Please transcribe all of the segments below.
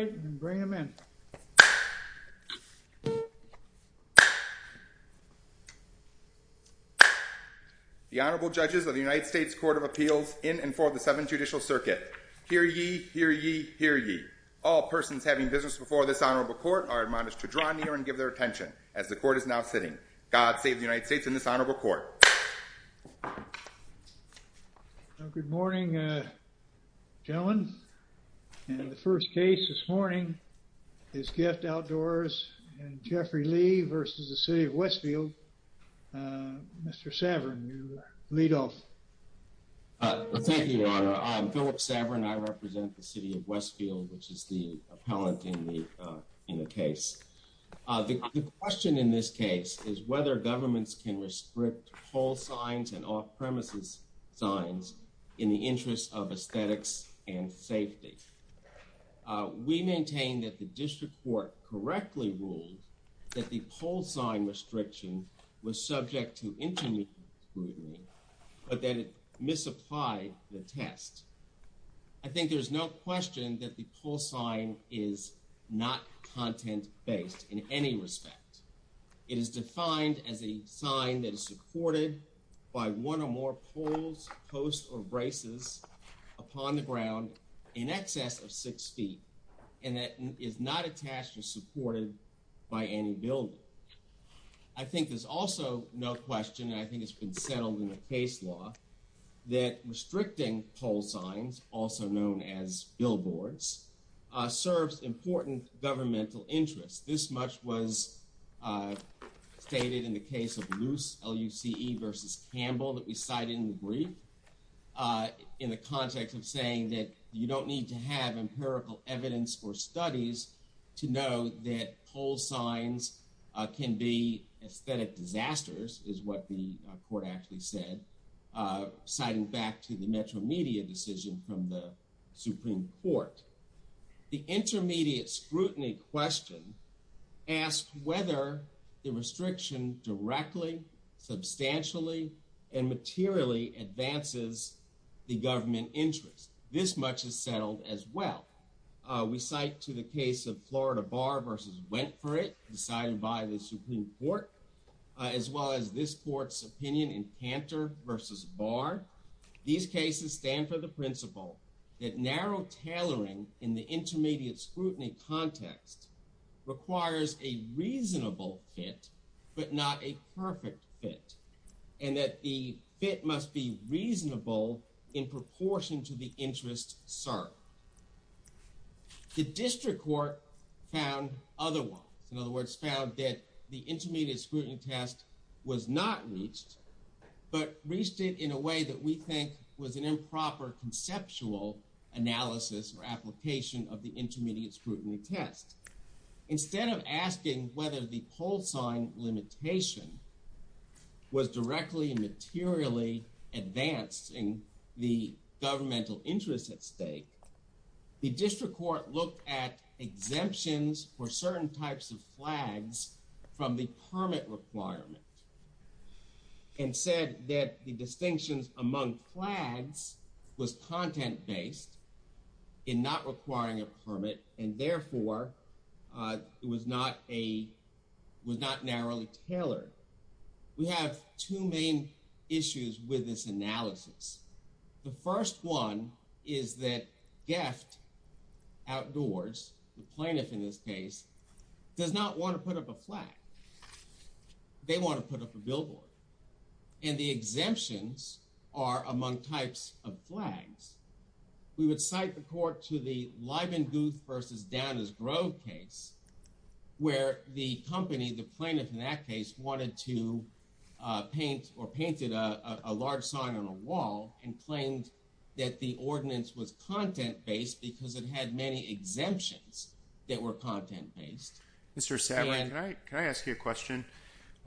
and bring them in. The Honorable Judges of the United States Court of Appeals in and for the Seventh Judicial Circuit. Hear ye, hear ye, hear ye. All persons having business before this honorable court are admonished to draw near and give their attention as the court is now sitting. God save the United States in this honorable court. Good morning, gentlemen. And the first case this morning is GEFT Outdoors and Jeffrey Lee versus the City of Westfield. Mr. Saverin, you lead off. Thank you, Your Honor. I'm Philip Saverin. I represent the City of Westfield, which is the appellant in the in the case. The question in this case is whether governments can restrict poll signs and off-premises signs in the interest of aesthetics and safety. We maintain that the district court correctly ruled that the poll sign restriction was subject to intermediate scrutiny but that it misapplied the test. I think there's no question that the poll sign is not content-based in any respect. It is defined as a sign that is supported by one or more polls, posts, or braces upon the ground in excess of six feet and that is not attached or supported by any building. I think there's also no question, and I think it's been settled in the case law, that restricting poll signs, also known as billboards, serves important governmental interests. This much was stated in the case of Luce versus Campbell that we cited in the brief in the context of saying that you don't need to have empirical evidence or studies to know that poll signs can be aesthetic disasters, is what the court actually said, citing back to the metro media decision from the Supreme Court. The intermediate scrutiny question asked whether the restriction directly, substantially, and materially advances the government interest. This much is settled as well. We cite to the case of Florida Bar versus Wentford, decided by the Supreme Court, as well as this court's opinion in Cantor versus Barr. These cases stand for the principle that narrow tailoring in the intermediate scrutiny context requires a reasonable fit, but not a perfect fit, and that the fit must be reasonable in proportion to the interest served. The district court found other ones. In other words, found that the intermediate scrutiny test was not reached, but reached it in a way that we think was an improper conceptual analysis or application of the intermediate scrutiny test. Instead of asking whether the poll sign limitation was directly and materially advanced in the governmental interest at stake, the district court looked at exemptions for certain types of flags from the permit requirement and said that the distinctions among flags was content-based in not requiring a permit and therefore it was not a, was not narrowly tailored. We have two main issues with this analysis. The first one is that Geft Outdoors, the plaintiff in this case, does not want to put up a flag. They want to put up a billboard, and the exemptions are among types of flags. We would cite the court to the Lyman Guth versus Downers Grove case, where the company, the plaintiff in that case, wanted to paint or painted a large sign on a wall and claimed that the ordinance was content-based because it had many exemptions that were content-based. Mr. Savrin, can I ask you a question?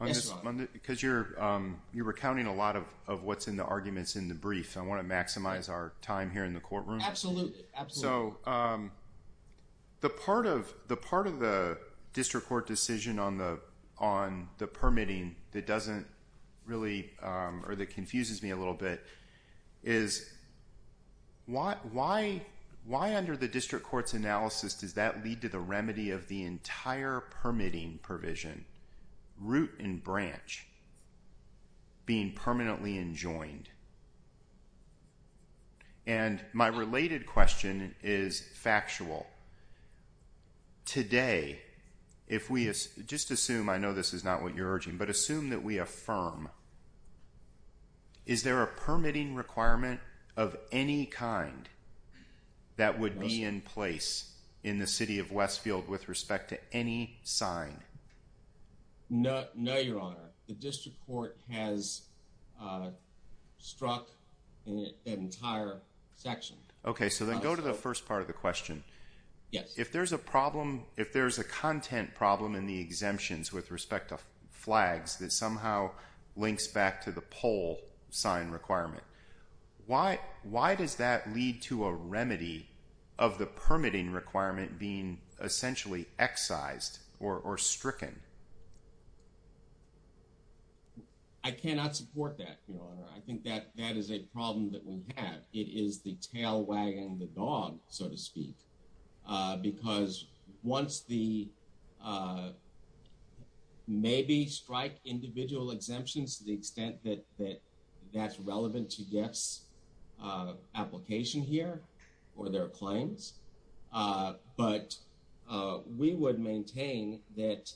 Because you're recounting a lot of what's in the arguments in the brief, I want to maximize our time here in the courtroom. Absolutely. So the part of the district court decision on the permitting that doesn't really, or that confuses me a little bit, is why under the district court's analysis does that lead to the remedy of the entire permitting provision, root and branch, being permanently enjoined? And my not what you're urging, but assume that we affirm. Is there a permitting requirement of any kind that would be in place in the city of Westfield with respect to any sign? No, your honor. The district court has struck an entire section. Okay, so then go to the first part of the question. Yes. If there's a flag that somehow links back to the pole sign requirement, why does that lead to a remedy of the permitting requirement being essentially excised or stricken? I cannot support that, your honor. I think that that is a problem that we have. It is the strike individual exemptions to the extent that that that's relevant to guess application here or their claims. But we would maintain that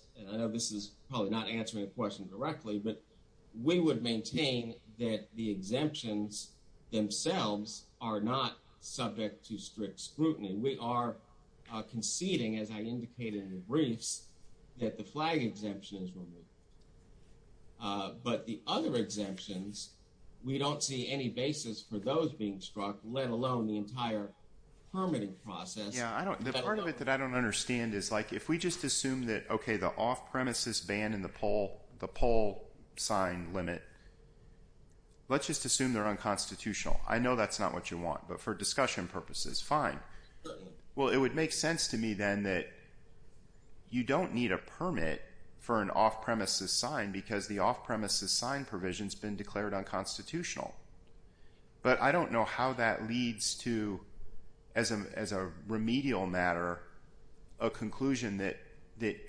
this is probably not answering a question directly, but we would maintain that the exemptions themselves are not subject to strict scrutiny. We are conceding, as I but the other exemptions, we don't see any basis for those being struck, let alone the entire permitting process. Yeah, I don't know. Part of it that I don't understand is like if we just assume that, okay, the off-premises ban in the pole, the pole sign limit, let's just assume they're unconstitutional. I know that's not what you want, but for discussion purposes, fine. Well, it would make sense to me, then, that you don't need a permit for an off-premises sign because the off-premises sign provision has been declared unconstitutional. But I don't know how that leads to, as a remedial matter, a conclusion that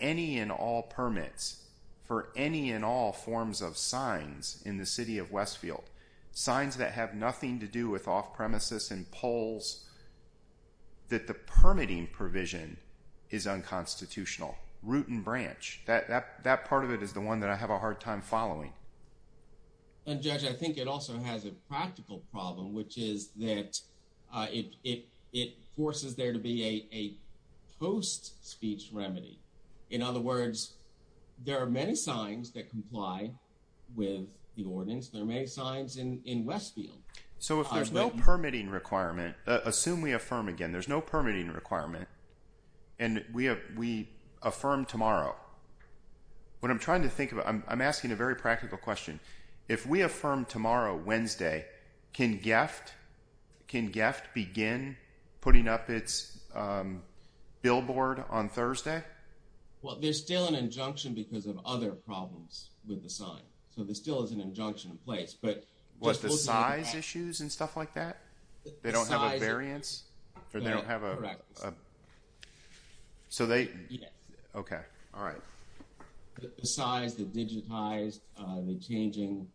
any and all permits for any and all forms of signs in the city of Westfield, signs that have nothing to do with off-premises and poles, that the permitting provision is unconstitutional, root and branch. That part of it is the one that I have a hard time following. Judge, I think it also has a practical problem, which is that it forces there to be a post-speech remedy. In other words, there are many signs that comply with the ordinance. There are many signs in Westfield. So if there's no permitting requirement, assume we affirm again, there's no permitting requirement, and we affirm tomorrow. What I'm trying to think about, I'm asking a very practical question, if we affirm tomorrow, Wednesday, can GEFT begin putting up its billboard on Thursday? Well, there's still an injunction because of other problems with the sign. So there still is an injunction in place. Was the size issues and stuff like that? They don't have a variance? So they, okay, all right. The size, the digitized, the changing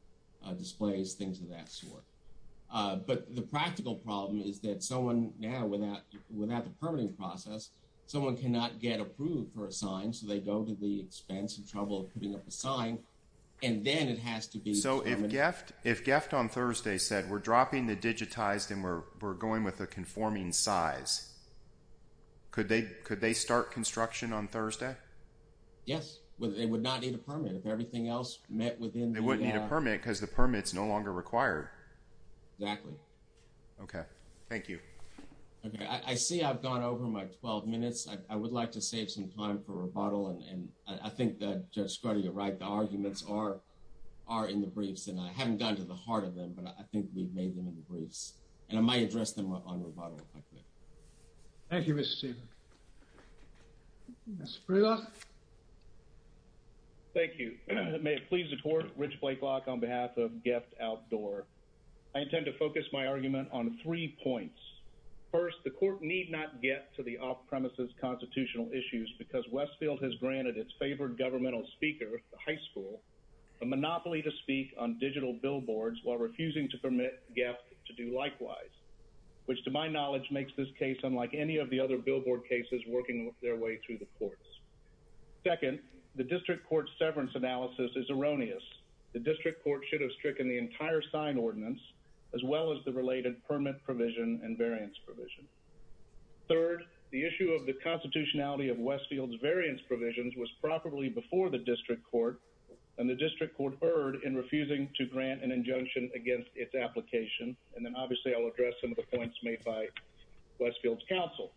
displays, things of that sort. But the practical problem is that someone now, without the permitting process, someone cannot get approved for a sign, so they go to the expense and trouble putting up a sign, and then it has to be permitted. So if GEFT on Thursday said, we're dropping the digitized and we're going with a conforming size, could they start construction on Thursday? Yes, but they would not need a permit if everything else met within the... They wouldn't need a permit because the permit's no longer required. Exactly. Okay, thank you. Okay, I see I've gone over my 12 minutes. I would like to save some time for rebuttal, and I think that Judge Skoda, you're right, the arguments are in the briefs, and I haven't gotten to the point where I think we've made them in the briefs, and I might address them on rebuttal. Thank you, Mr. Stevens. Mr. Brelach? Thank you. May it please the Court, Rich Blake-Locke on behalf of GEFT Outdoor. I intend to focus my argument on three points. First, the Court need not get to the off-premises constitutional issues because Westfield has granted its favored governmental speaker, the high school, a monopoly to speak on digital billboards while refusing to permit GEFT to do likewise, which to my knowledge makes this case unlike any of the other billboard cases working their way through the courts. Second, the District Court's severance analysis is erroneous. The District Court should have stricken the entire sign ordinance as well as the related permit provision and variance provision. Third, the issue of the constitutionality of Westfield's variance provisions was properly before the District Court, and the District Court erred in refusing to grant an injunction against its application, and then obviously I'll address some of the points made by Westfield's counsel.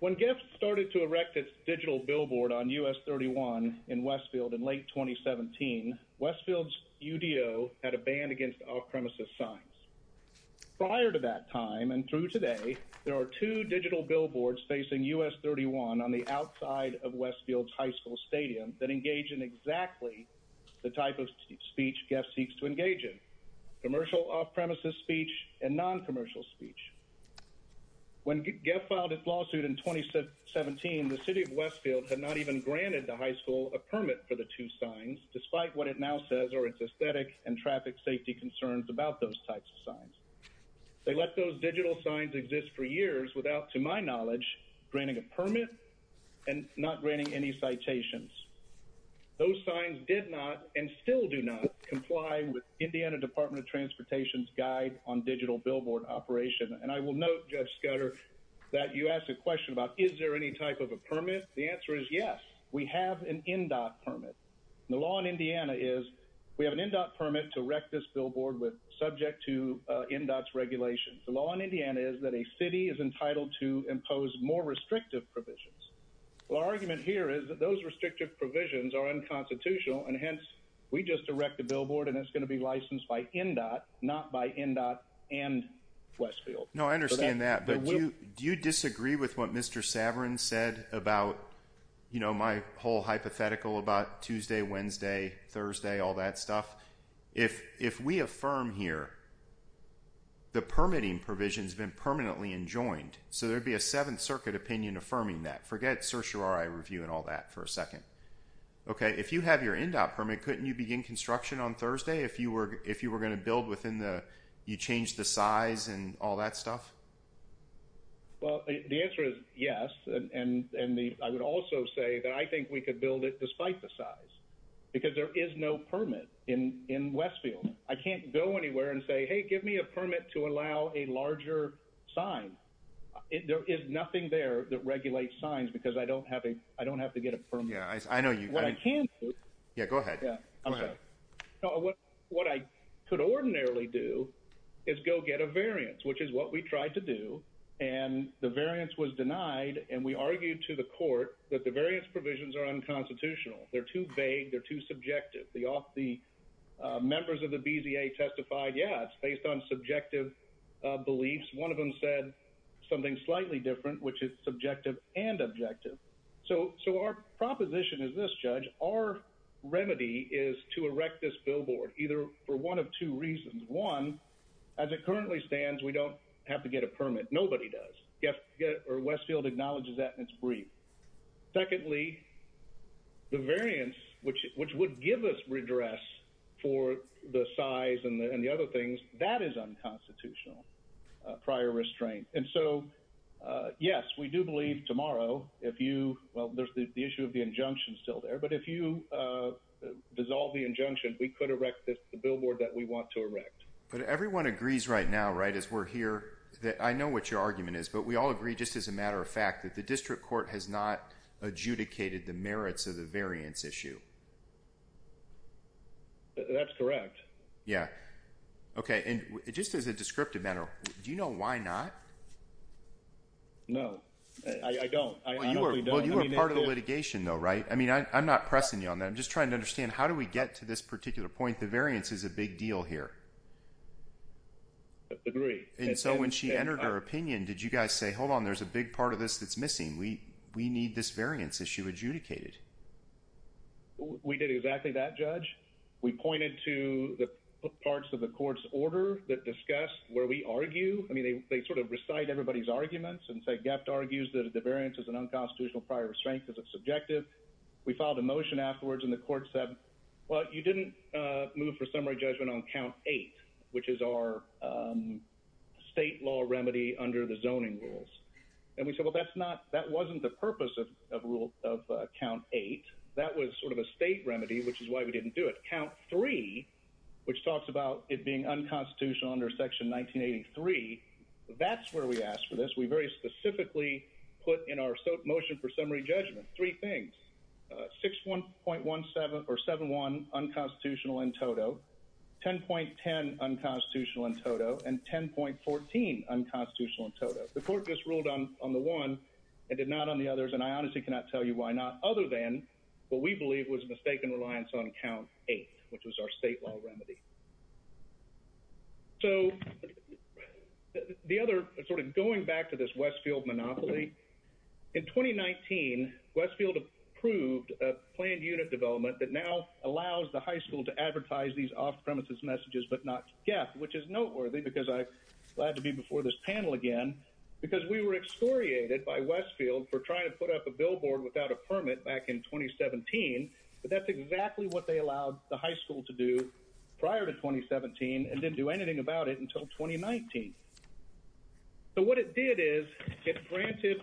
When GEFT started to erect its digital billboard on US 31 in Westfield in late 2017, Westfield's UDO had a ban against off-premises signs. Prior to that time and through today, there are two digital billboards facing US 31 on the outside of Westfield's high school stadium that engage in exactly the type of speech GEFT seeks to engage in, commercial off-premises speech and non-commercial speech. When GEFT filed its lawsuit in 2017, the city of Westfield had not even granted the high school a permit for the two signs, despite what it now says are its aesthetic and traffic safety concerns about those types of signs. They let those digital signs exist for years without, to my knowledge, granting a permit and not granting any citations. Those signs did not and still do not comply with Indiana Department of Transportation's guide on digital billboard operation, and I will note, Judge Scudder, that you asked a question about is there any type of a permit? The answer is yes. We have an NDOT permit. The law in Indiana is we have an NDOT permit to erect this billboard with subject to NDOT's regulations. The law in Indiana is entitled to impose more restrictive provisions. Well, our argument here is that those restrictive provisions are unconstitutional, and hence, we just erect the billboard and it's going to be licensed by NDOT, not by NDOT and Westfield. No, I understand that, but do you disagree with what Mr. Saverin said about, you know, my whole hypothetical about Tuesday, Wednesday, Thursday, all that stuff? If we affirm here the permitting provision has been permanently enjoined, so there'd be a Seventh Circuit opinion affirming that. Forget certiorari review and all that for a second. Okay, if you have your NDOT permit, couldn't you begin construction on Thursday if you were if you were going to build within the, you change the size and all that stuff? Well, the answer is yes, and I would also say that I think we could build it despite the size because there is no permit in Westfield. I can't go anywhere and say, hey, give me a permit to allow a larger sign. There is nothing there that regulates signs because I don't have a, I don't have to get a permit. Yeah, I know you. What I can do. Yeah, go ahead. What I could ordinarily do is go get a variance, which is what we tried to do, and the variance was denied, and we argued to the court that the variance provisions are unconstitutional. They're too vague, they're too subjective. The members of the BZA testified, yes, based on subjective beliefs. One of them said something slightly different, which is subjective and objective. So our proposition is this, Judge, our remedy is to erect this billboard either for one of two reasons. One, as it currently stands, we don't have to get a permit. Nobody does. Westfield acknowledges that, and it's brief. Secondly, the variance, which would give us redress for the size and the other things, that is unconstitutional, prior restraint. And so, yes, we do believe tomorrow, if you, well, there's the issue of the injunction still there, but if you dissolve the injunction, we could erect the billboard that we want to erect. But everyone agrees right now, right, as we're here, that I know what your argument is, but we all agree, just as a matter of fact, that the district court has not adjudicated the merits of the variance issue. That's correct. Yeah. Okay. And just as a descriptive matter, do you know why not? No, I don't. Well, you were part of the litigation, though, right? I mean, I'm not pressing you on that. I'm just trying to understand. How do we get to this particular point? The variance is a big deal here. Agree. And so when she entered her opinion, did you guys say, Hold on, there's a big part of this that's missing. We we need this variance issue adjudicated. We did exactly that, Judge. We pointed to the parts of the court's order that discussed where we argue. I mean, they sort of recite everybody's arguments and say, Gept argues that the variance is an unconstitutional prior restraint as a subjective. We filed a motion afterwards, and the court said, Well, you didn't move for summary judgment on count eight, which is our state law remedy under the zoning rules. And we said, Well, that's not that wasn't the purpose of rule of count eight. That was sort of a state remedy, which is why we didn't do it. Count three, which talks about it being unconstitutional under section 1983. That's where we asked for this. We very specifically put in our motion for summary judgment. Three things 61.17 or 71 unconstitutional in total 10.10 unconstitutional in total and 10.14 unconstitutional in total. The court just ruled on on the one and did not on the others, and I honestly cannot tell you why not other than what we believe was mistaken reliance on count eight, which was our state law remedy. So the other sort of going back to this Westfield monopoly in 2019 Westfield approved a planned unit development that now allows the high school to advertise these off premises messages, but not get which is noteworthy because glad to be before this panel again because we were excoriated by Westfield for trying to put up a billboard without a permit back in 2017. But that's exactly what they allowed the high school to do prior to 2017 and didn't do anything about it until 2019. So what it did is get granted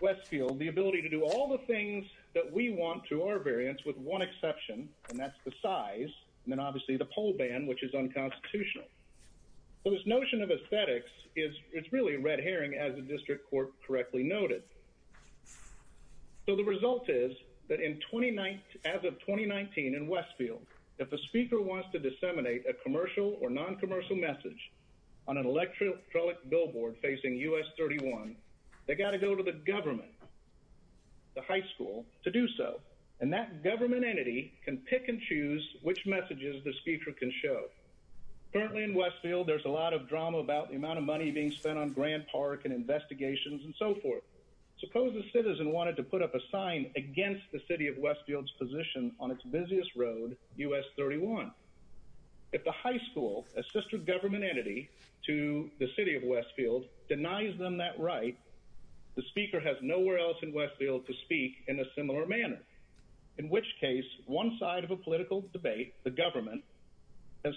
Westfield the ability to do all the things that we want to our variants with one exception, and that's the size and then obviously the pole band, which is unconstitutional. So this notion of aesthetics is it's really red herring as the district court correctly noted. So the result is that in 29 as of 2019 in Westfield, if the speaker wants to disseminate a commercial or non commercial message on an electric truly billboard facing US 31, they got to go to the government. The high school to do so, and that government entity can pick and choose which messages the speaker can show. Currently in Westfield, there's a lot of drama about the amount of money being spent on Grand Park and investigations and so forth. Suppose the citizen wanted to put up a sign against the city of Westfield's position on its busiest road US 31. If the high school, a sister government entity to the city of Westfield denies them that right, the speaker has nowhere else in Westfield to speak in a way the government has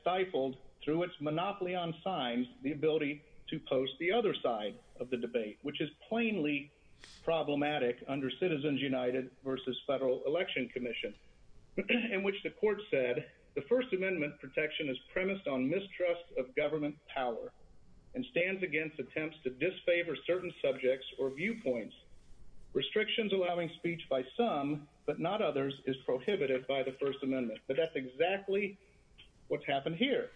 stifled through its monopoly on signs, the ability to post the other side of the debate, which is plainly problematic under Citizens United versus Federal Election Commission, in which the court said the First Amendment protection is premised on mistrust of government power and stands against attempts to disfavor certain subjects or viewpoints. Restrictions allowing speech by some but not others is prohibited by the First Amendment, but that's exactly what's happened here.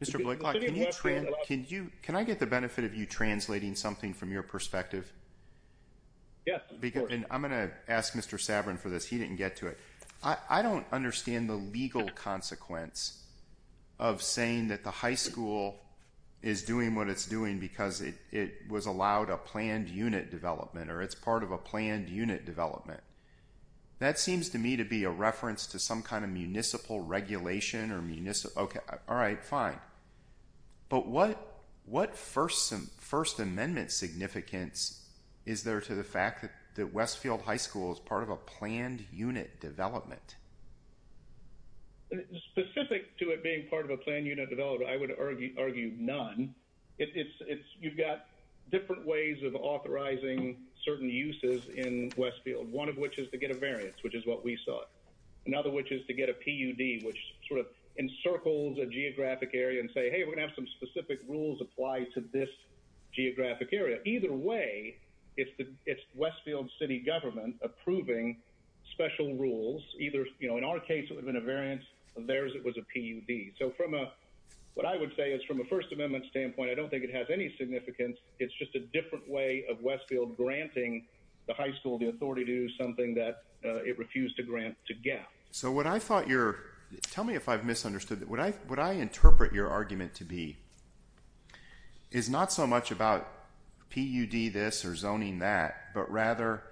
Mr. Blake, can you can you can I get the benefit of you translating something from your perspective? Yes, because I'm going to ask Mr. Sabrin for this. He didn't get to it. I don't understand the legal consequence of saying that the high school is doing what it's doing because it was allowed a planned unit development or it's part of a planned unit development. That seems to me to be a reference to some kind of municipal regulation or municipal. OK, all right, fine. But what what first some First Amendment significance is there to the fact that Westfield High School is part of a planned unit development? Specific to it being part of a planned unit development, I would argue none. It's you've got different ways of authorizing certain uses in Westfield. One of which is to get a variance, which is what we saw. Another, which is to get a PUD, which sort of encircles a geographic area and say, hey, we're going to have some specific rules apply to this geographic area. Either way, it's the Westfield city government approving special rules either. In our case, it would have been a variance of theirs. It was a PUD. So from what I would say is from a First Amendment standpoint, I don't think it has any significance. So what I thought your tell me if I've misunderstood what I what I interpret your argument to be is not so much about PUD this or zoning that, but rather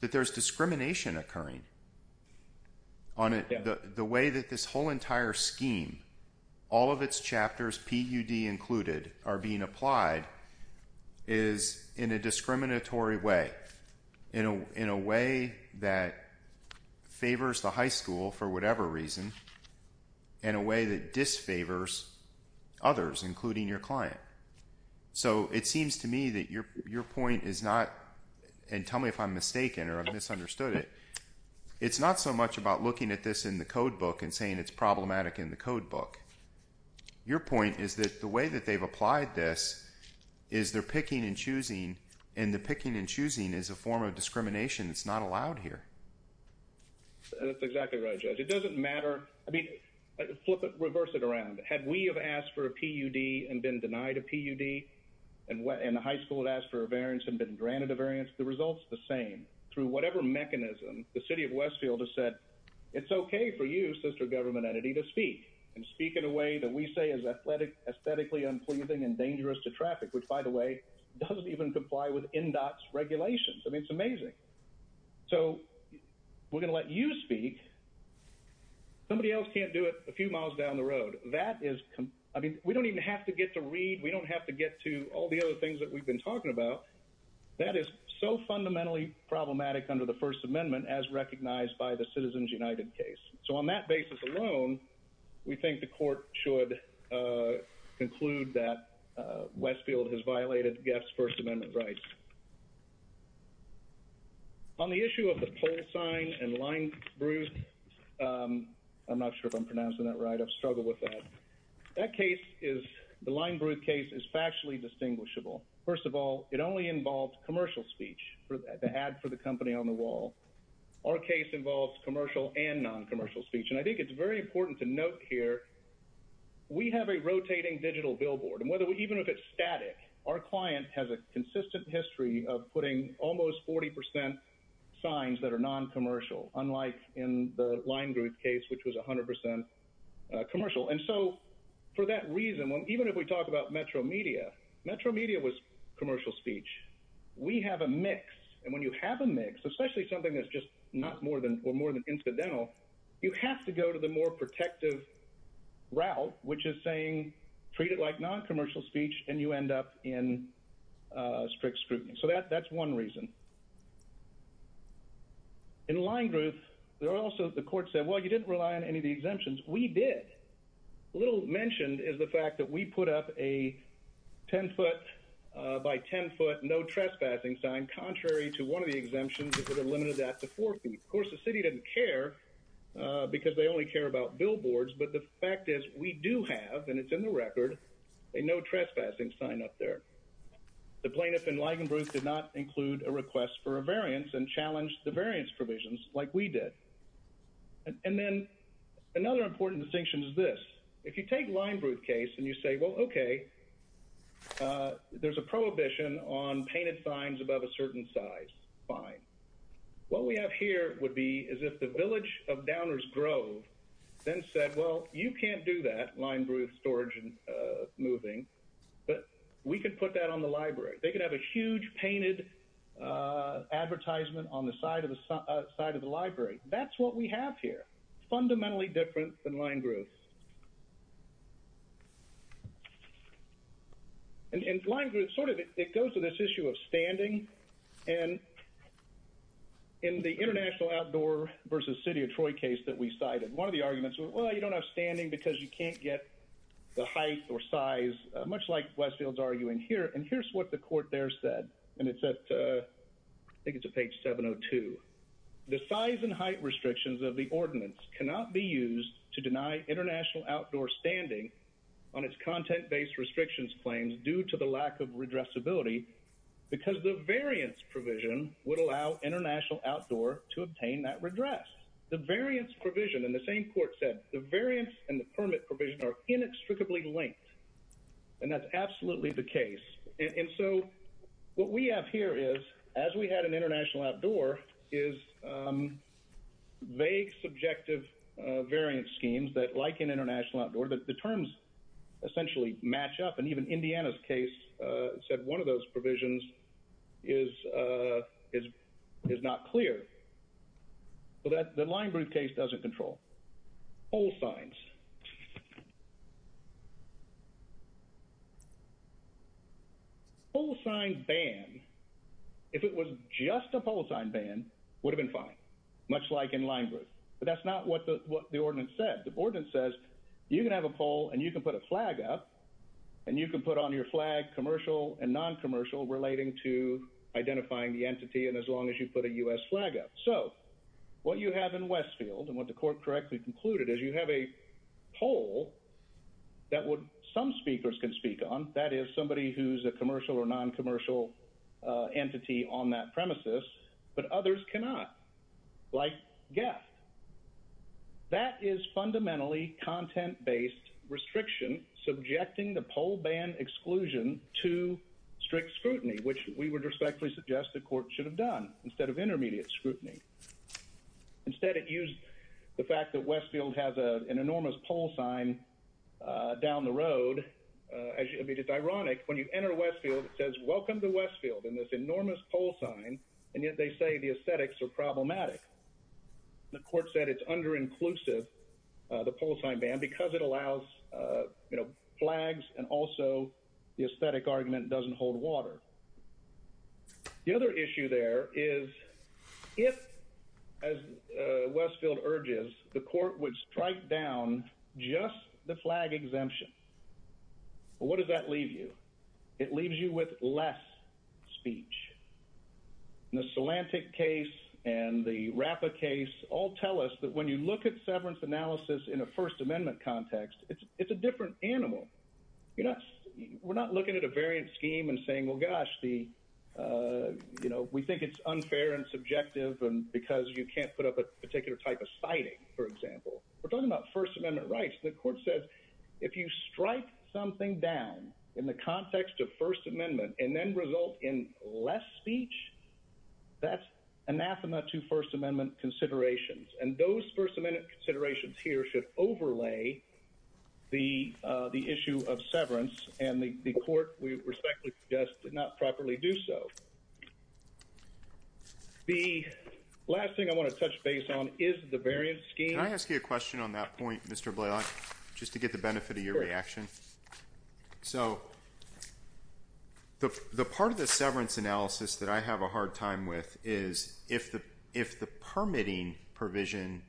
that there's discrimination occurring. On the way that this whole entire scheme, all of its chapters, PUD included, are a way that favors the high school for whatever reason, and a way that disfavors others, including your client. So it seems to me that your point is not and tell me if I'm mistaken or I've misunderstood it. It's not so much about looking at this in the codebook and saying it's problematic in the codebook. Your point is that the way that they've applied this is they're picking and it's not allowed here. That's exactly right. It doesn't matter. I mean, flip it, reverse it around. Had we have asked for a PUD and been denied a PUD and went in the high school and asked for a variance and been granted a variance, the results the same through whatever mechanism the city of Westfield has said, it's OK for you, sister government entity, to speak and speak in a way that we say is athletic, aesthetically unpleasing and dangerous to traffic, which, by the way, doesn't even comply with in-dots regulations. I mean, it's amazing. So we're going to let you speak. Somebody else can't do it a few miles down the road. That is. I mean, we don't even have to get to read. We don't have to get to all the other things that we've been talking about. That is so fundamentally problematic under the First Amendment, as recognized by the Citizens United case. So on that basis alone, we think the court should conclude that Westfield has violated Guest's First Amendment rights. On the issue of the pole sign and line, Bruce, I'm not sure if I'm pronouncing that right. I've struggled with that. That case is the line. Bruce case is factually distinguishable. First of all, it only involves commercial speech for the ad for the company on the wall. Our case involves commercial and non-commercial speech. And I think it's very important to note here. We have a rotating digital billboard and whether we even if it's static, our client has a consistent history of putting almost 40 percent signs that are non-commercial, unlike in the line group case, which was 100 percent commercial. And so for that reason, even if we talk about Metro Media, Metro Media was commercial speech. We have a mix. And when you have a mix, especially something that's just not more than or more than incidental, you have to go to the more protective route, which is saying treat it like non-commercial speech and you end up in strict scrutiny. So that that's one reason. In line group, there are also the court said, well, you didn't rely on any of the exemptions. We did. Little mentioned is the fact that we put up a 10 foot by 10 foot, no trespassing sign, contrary to one of the exemptions that would have limited that to four feet. Of course, the city didn't care because they only care about billboards. But the fact is, we do have and it's in the record a no trespassing sign up there. The plaintiff in Ligonbrook did not include a request for a variance and challenged the variance provisions like we did. And then another important distinction is this. If you take Ligonbrook case and you say, well, OK, there's a prohibition on painted signs above a certain size fine. What we have here would be is if the village of Downers Grove then said, well, you can't do that line, Bruce, storage and moving, but we could put that on the library. They could have a huge painted advertisement on the side of the side of the library. That's what we have here. Fundamentally different than line groups. And in Ligonbrook, sort of it goes to this issue of standing and in the international outdoor versus city of Troy case that we cited, one of the arguments were, well, you don't have standing because you can't get the height or size, much like Westfield's arguing here. And here's what the court there said. And it's at I think it's a page 702. The size and height restrictions of the ordinance cannot be used to deny international outdoor versus city of Troy. And the court said, well, you can't have international outdoor standing on its content based restrictions claims due to the lack of redress ability because the variance provision would allow international outdoor to obtain that redress. The variance provision in the same court said the variance and the permit provision are inextricably linked. And that's absolutely the case. And so what we have here is as we had an international outdoor is vague, subjective international outdoor, but the terms essentially match up. And even Indiana's case said one of those provisions is is is not clear. So that the Ligonbrook case doesn't control all signs. All signed ban, if it was just a pole sign ban would have been fine, much like in Ligonbrook. But that's not what the what the ordinance said. The ordinance says you can have a pole and you can put a flag up and you can put on your flag commercial and non-commercial relating to identifying the entity. And as long as you put a U.S. flag up. So what you have in Westfield and what the court correctly concluded is you have a pole that would some speakers can speak on. That is somebody who's a commercial or non-commercial entity on that premises. But others cannot. Like, yes. That is fundamentally content based restriction subjecting the pole ban exclusion to strict scrutiny, which we would respectfully suggest the court should have done instead of intermediate scrutiny. Instead, it used the fact that Westfield has an enormous pole sign down the road. As it's ironic, when you enter Westfield, it says, welcome to Westfield in this enormous pole sign. And yet they say the aesthetics are problematic. The court said it's under inclusive the pole sign ban because it allows, you know, flags and also the aesthetic argument doesn't hold water. The other issue there is if, as Westfield urges, the court would strike down just the flag exemption. What does that leave you? It leaves you with less speech. The Solantic case and the rapid case all tell us that when you look at severance analysis in a First Amendment context, it's a different animal. You know, we're not looking at a variant scheme and saying, well, gosh, the you know, we think it's unfair and subjective and because you can't put up a particular type of citing, for example, we're talking about First Amendment rights. The court said if you strike something down in the context of First Amendment and then result in less speech, that's anathema to First Amendment considerations. And those First Amendment considerations here should overlay the the issue of severance and the court, we respectfully suggest, did not properly do so. The last thing I want to touch base on is the variant scheme. I ask you a question on that point, Mr. Blaylock, just to get the benefit of your reaction. So the part of the severance analysis that I have a hard time with is if the if the permitting provision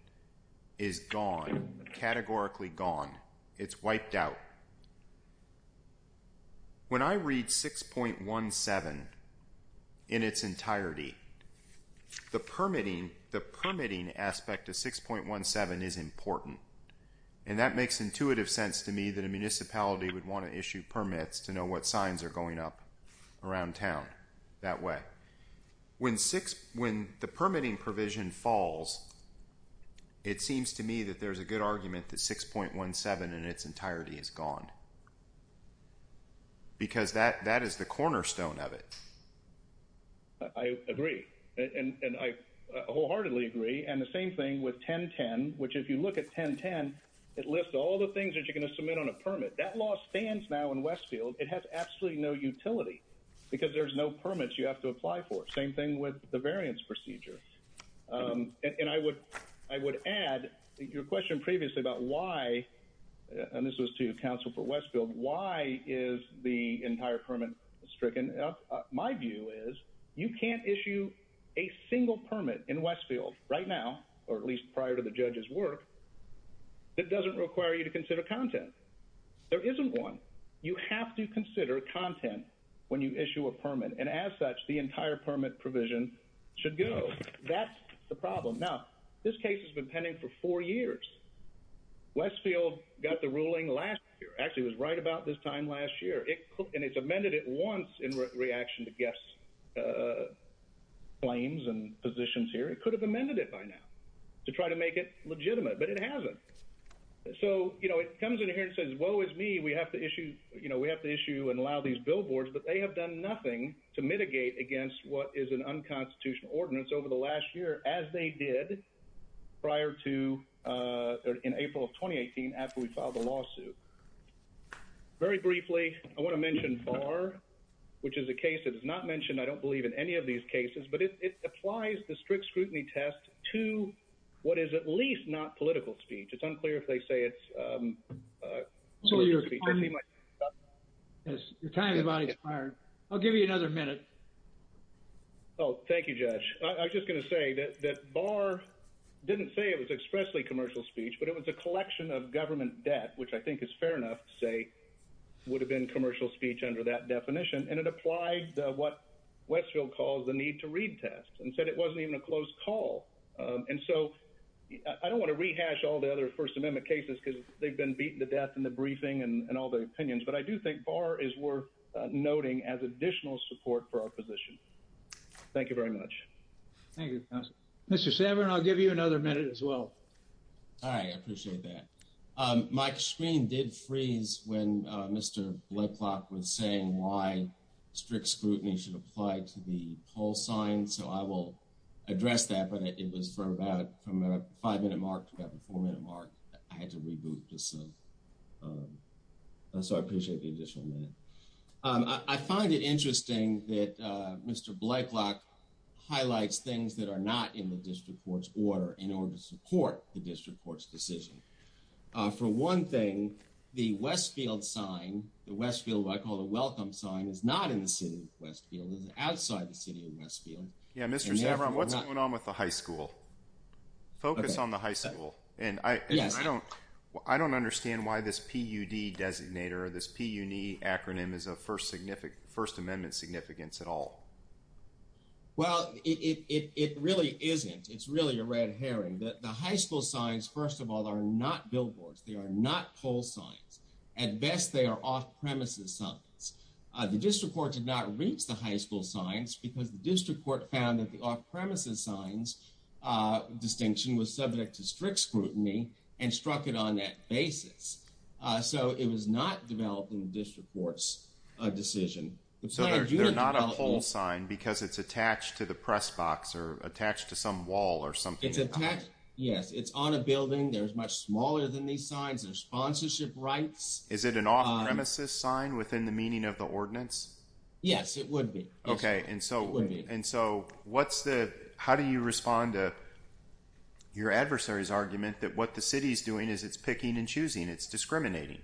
is gone, categorically gone, it's wiped out. When I read 6.17 in its entirety, the permitting, the permitting aspect of 6.17 is important, and that makes intuitive sense to me that a municipality would want to issue permits to know what signs are going up around town that way. When six when the permitting provision falls. It seems to me that there's a good argument that 6.17 in its entirety is gone. Because that that is the cornerstone of it. I agree, and I wholeheartedly agree. And the same thing with 1010, which if you look at 1010, it lists all the things that you're going to submit on a permit. That law stands now in Westfield. It has absolutely no utility because there's no permits you have to apply for. Same thing with the variance procedure. And I would I would add your question previously about why. And this was to counsel for Westfield. Why is the entire permit stricken? My view is you can't issue a single permit in Westfield right now, or at least prior to the judge's work. It doesn't require you to consider content. There isn't one. You have to consider content when you issue a permit. And as such, the entire permit provision should go. That's the problem. Now, this case has been pending for four years. Westfield got the ruling last year. Actually, it was right about this time last year, and it's amended it once in reaction to guests' claims and positions here. It could have amended it by now to try to make it legitimate, but it hasn't. So, you know, it comes in here and says, woe is me. We have to issue you know, we have to issue and allow these billboards. But they have done nothing to mitigate against what is an unconstitutional ordinance over the last year, as they did prior to in April of 2018 after we filed a lawsuit. Very briefly, I want to mention Barr, which is a case that is not mentioned, I don't believe, in any of these cases, but it applies the strict scrutiny test to what is at least not political speech. It's unclear if they say it's. So your time is about expired. I'll give you another minute. Oh, thank you, Judge. I was just going to say that Barr didn't say it was expressly commercial speech, but it was a would have been commercial speech under that definition. And it applied what Westfield calls the need to read test and said it wasn't even a close call. And so I don't want to rehash all the other First Amendment cases because they've been beaten to death in the briefing and all the opinions. But I do think Barr is worth noting as additional support for our position. Thank you very much. Thank you. Mr. Samer, I'll give you another minute as well. I appreciate that. My screen did freeze when Mr. Blakelock was saying why strict scrutiny should apply to the whole sign. So I will address that. But it was for about from a five minute mark to about a four minute mark. I had to reboot to see. So I appreciate the additional minute. I find it interesting that Mr. Blakelock highlights things that are not in the district court's order in order to support the district court's decision. For one thing, the Westfield sign, the Westfield, what I call a welcome sign, is not in the city of Westfield, outside the city of Westfield. Yeah, Mr. Samer, what's going on with the high school? Focus on the high school. And I don't I don't understand why this PUD designator, this PUNI acronym is a first significant First Amendment significance at all. Well, it really isn't. It's really a red herring. The high school signs, first of all, are not billboards. They are not poll signs. At best, they are off premises signs. The district court did not reach the high school signs because the district court found that the off premises signs distinction was subject to strict scrutiny and struck it on that basis. So it was not developed in the district court's decision. But so they're not a poll sign because it's attached to the press box or attached to some wall or something. Yes, it's on a building. There's much smaller than these signs of sponsorship rights. Is it an off premises sign within the meaning of the ordinance? Yes, it would be. OK, and so and so what's the how do you respond to your adversary's argument that what the city is doing is it's picking and choosing? It's discriminating.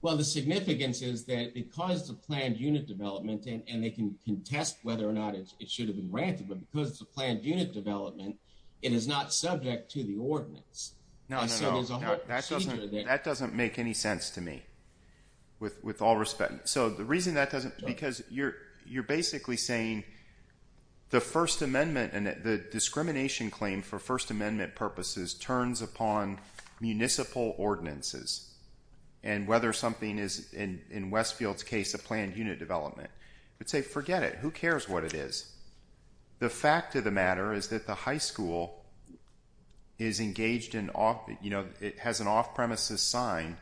Well, the significance is that because the planned unit development and they can contest whether or not it should have been granted, but because it's a planned unit development, it is not subject to the ordinance. Now, so there's a that doesn't make any sense to me with all respect. So the reason that doesn't because you're you're basically saying the First Amendment and the discrimination claim for First Amendment purposes turns upon municipal ordinances and whether something is in Westfield's case, a planned unit development. But say forget it. Who cares what it is? The fact of the matter is that the high school is engaged in, you know, it has an off premises sign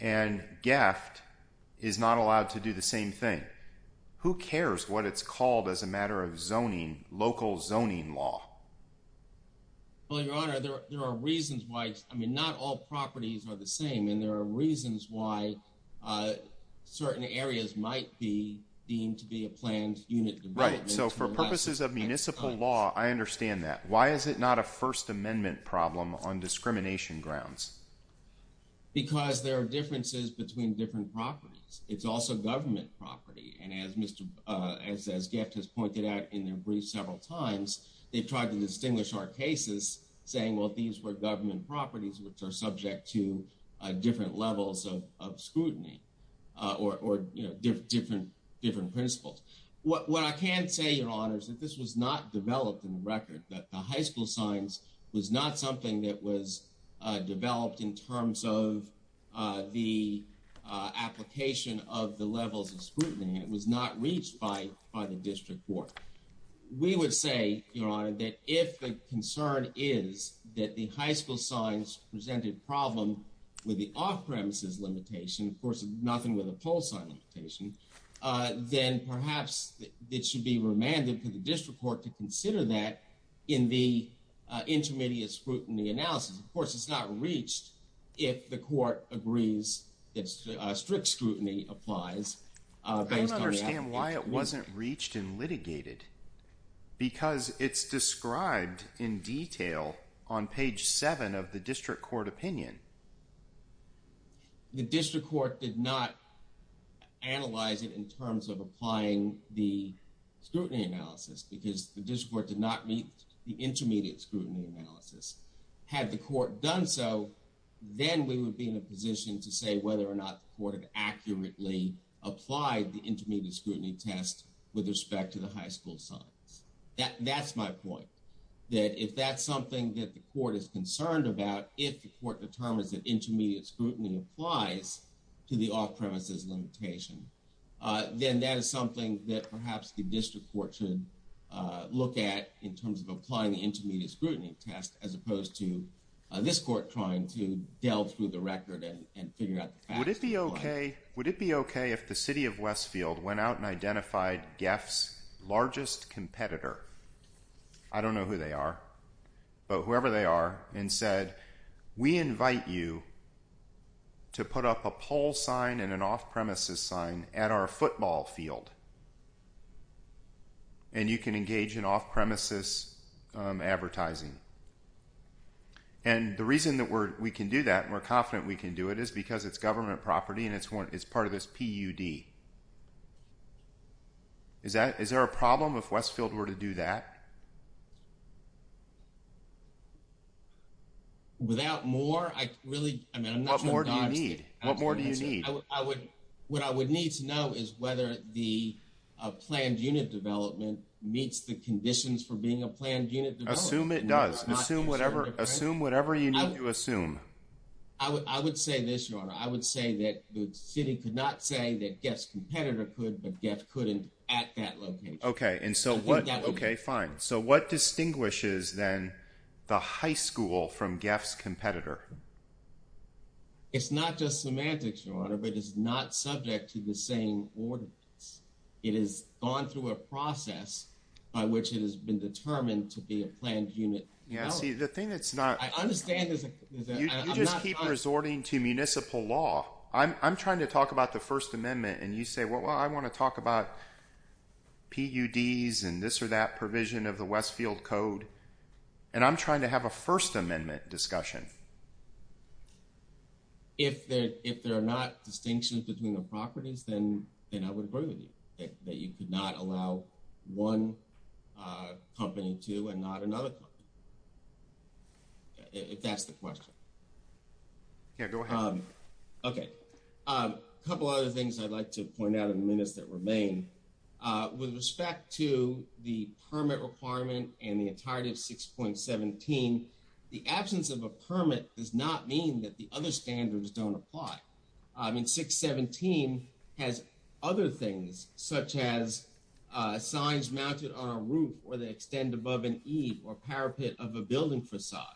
and gaffed is not allowed to do the same thing. Who cares what it's called as a matter of zoning local zoning law? Well, your honor, there are reasons why I mean, not all properties are the same and there are reasons why certain areas might be deemed to be a planned unit. Right. So for purposes of municipal law, I understand that. Why is it not a First Amendment problem on discrimination grounds? Because there are differences between different properties. It's also government property. And as Mr. as as Jeff has pointed out in their brief several times, they've tried to distinguish our cases saying, well, these were government properties which are subject to different levels of scrutiny or different different principles. What I can say, your honor, is that this was not developed in the record, that the high school signs was not something that was developed in terms of the application of the levels of scrutiny. It was not reached by by the district court. We would say, your honor, that if the concern is that the high school signs presented a problem with the off premises limitation, of course, nothing with a pole sign limitation, then perhaps it should be remanded to the district court to consider that in the intermediate scrutiny analysis. Of course, it's not reached if the court agrees that strict scrutiny applies. I don't understand why it wasn't reached and litigated, because it's described in detail on page seven of the district court opinion. The district court did not analyze it in terms of applying the scrutiny analysis because the district court did not meet the intermediate scrutiny analysis. Had the court done so, then we would be in a position to say whether or not the court had accurately applied the intermediate scrutiny test with respect to the high school signs. That's my point, that if that's something that the court is concerned about, if the court determines that intermediate scrutiny applies to the off premises limitation, then that is something that perhaps the district court should look at in terms of applying the intermediate scrutiny test, as opposed to this court trying to delve through the record and figure out. Would it be OK if the city of Westfield went out and identified GEF's largest competitor? I don't know who they are, but whoever they are, and said, we invite you to put up a pole sign and an off premises sign at our football field. And you can engage in off premises advertising. And the reason that we're we can do that and we're confident we can do it is because it's government property and it's one it's part of this PUD. Is that is there a problem if Westfield were to do that? Without more, I really mean, what more do you need? What more do you need? I would what I would need to know is whether the planned unit development meets the conditions for being a planned unit. Assume it does. Assume whatever. Assume whatever you need to assume. I would say this, your honor. I would say that the city could not say that guess competitor could. But Jeff couldn't at that location. OK. And so what? OK, fine. So what distinguishes then the high school from Jeff's competitor? It's not just semantics, your honor, but it's not subject to the same ordinance. It is gone through a process by which it has been determined to be a planned unit. Yeah. See, the thing that's not I understand is you just keep resorting to municipal law. I'm trying to talk about the First Amendment. And you say, well, I want to talk about. PUDs and this or that provision of the Westfield Code, and I'm trying to have a First Amendment discussion. If there if there are not distinctions between the properties, then then I would agree with you that you could not allow one company to and not another. If that's the question. Yeah, go ahead. OK, a couple of other things I'd like to point out in the minutes that remain with respect to the permit requirement and the entirety of six point seventeen, the absence of a permit does not mean that the other standards don't apply. I mean, six seventeen has other things such as signs mounted on a roof or they extend above an E or parapet of a building facade,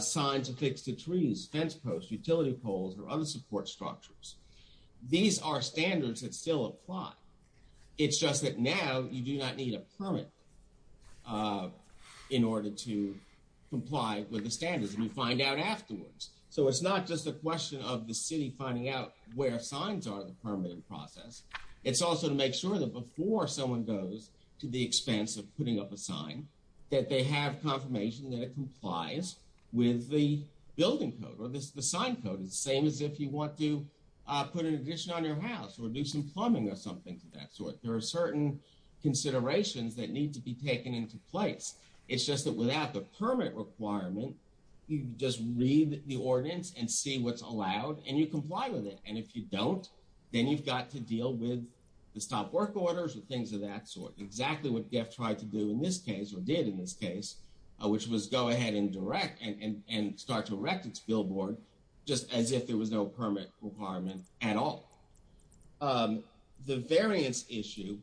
signs affixed to trees, fence posts, utility poles or other support structures. These are standards that still apply. It's just that now you do not need a permit in order to comply with the standards and you find out afterwards. So it's not just a question of the city finding out where signs are the permanent process. It's also to make sure that before someone goes to the expense of putting up a sign, that they have confirmation that it complies with the building code or the sign code is the same as if you want to put an addition on your house or do some plumbing or that sort. There are certain considerations that need to be taken into place. It's just that without the permit requirement, you just read the ordinance and see what's allowed and you comply with it. And if you don't, then you've got to deal with the stop work orders and things of that sort. Exactly what Jeff tried to do in this case or did in this case, which was go ahead and direct and start to erect its billboard just as if there was no permit requirement at all. The variance issue,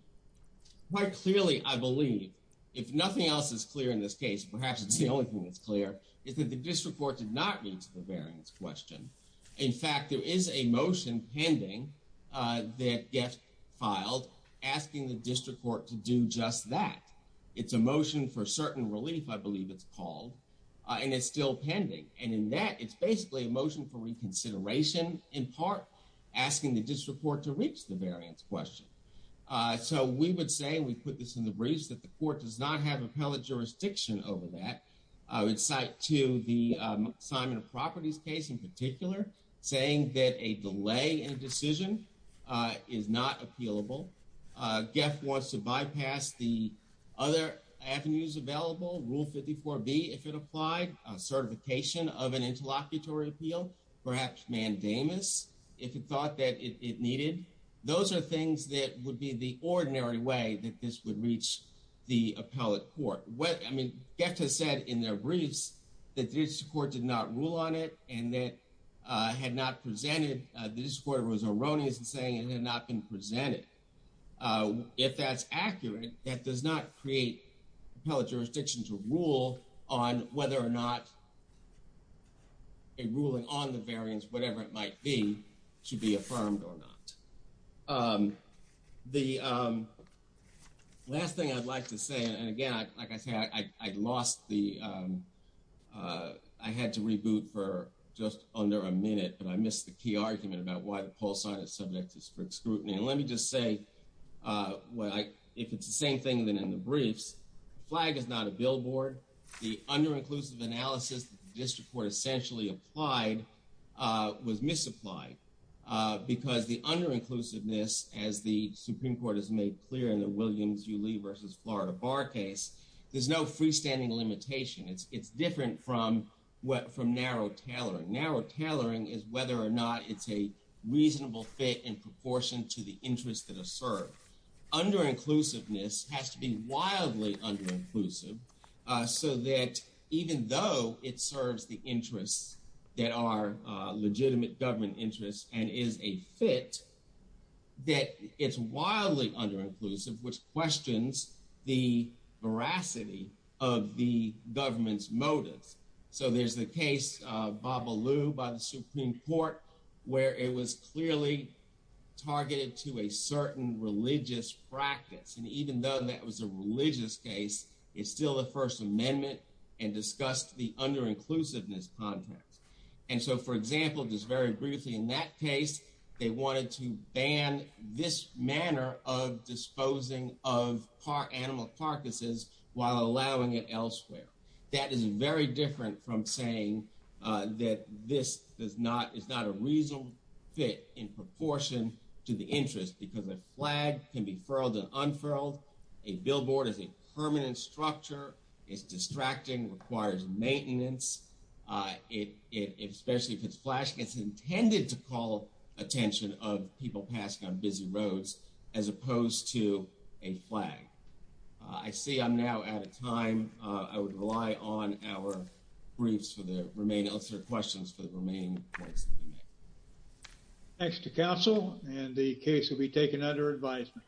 quite clearly, I believe, if nothing else is clear in this case, perhaps it's the only thing that's clear is that the district court did not reach the variance question. In fact, there is a motion pending that gets filed asking the district court to do just that. It's a motion for certain relief, I believe it's called, and it's still pending. And in that, it's basically a motion for reconsideration, in part asking the district court to reach the variance question. So we would say we put this in the briefs that the court does not have appellate jurisdiction over that. I would cite to the assignment of properties case in particular, saying that a delay in a decision is not appealable. Jeff wants to bypass the other avenues available. Rule fifty four B, if it applied certification of an interlocutory appeal, perhaps mandamus if it thought that it needed. Those are things that would be the ordinary way that this would reach the appellate court. What I mean, get to said in their briefs that this court did not rule on it and that had not presented. This court was erroneous and saying it had not been presented. If that's accurate, that does not create appellate jurisdiction to rule on whether or not. A ruling on the variance, whatever it might be, should be affirmed or not, the last thing I'd like to say, and again, like I said, I lost the I had to reboot for just under a minute, but I missed the key argument about why the poll site is subject to scrutiny. And let me just say, well, if it's the same thing than in the briefs, flag is not a billboard. The under inclusive analysis, this report essentially applied was misapplied because the under inclusiveness, as the Supreme Court has made clear in the Williams Uly versus Florida Bar case, there's no freestanding limitation. It's it's different from what from narrow tailoring. Narrow tailoring is whether or not it's a reasonable fit in proportion to the interests that are served. Under inclusiveness has to be wildly under inclusive so that even though it serves the interests that are legitimate government interests and is a fit. That it's wildly under inclusive, which questions the veracity of the government's by the Supreme Court, where it was clearly targeted to a certain religious practice. And even though that was a religious case, it's still the First Amendment and discussed the under inclusiveness context. And so, for example, just very briefly, in that case, they wanted to ban this manner of disposing of animal carcasses while allowing it elsewhere. That is very different from saying that this is not a reasonable fit in proportion to the interest because a flag can be furled and unfurled. A billboard is a permanent structure. It's distracting, requires maintenance. It especially if it's flashing, it's intended to call attention of people passing on busy roads as opposed to a flag. I see I'm now out of time. I would rely on our briefs for the remaining questions for the remaining points. Thanks to counsel and the case will be taken under advisement.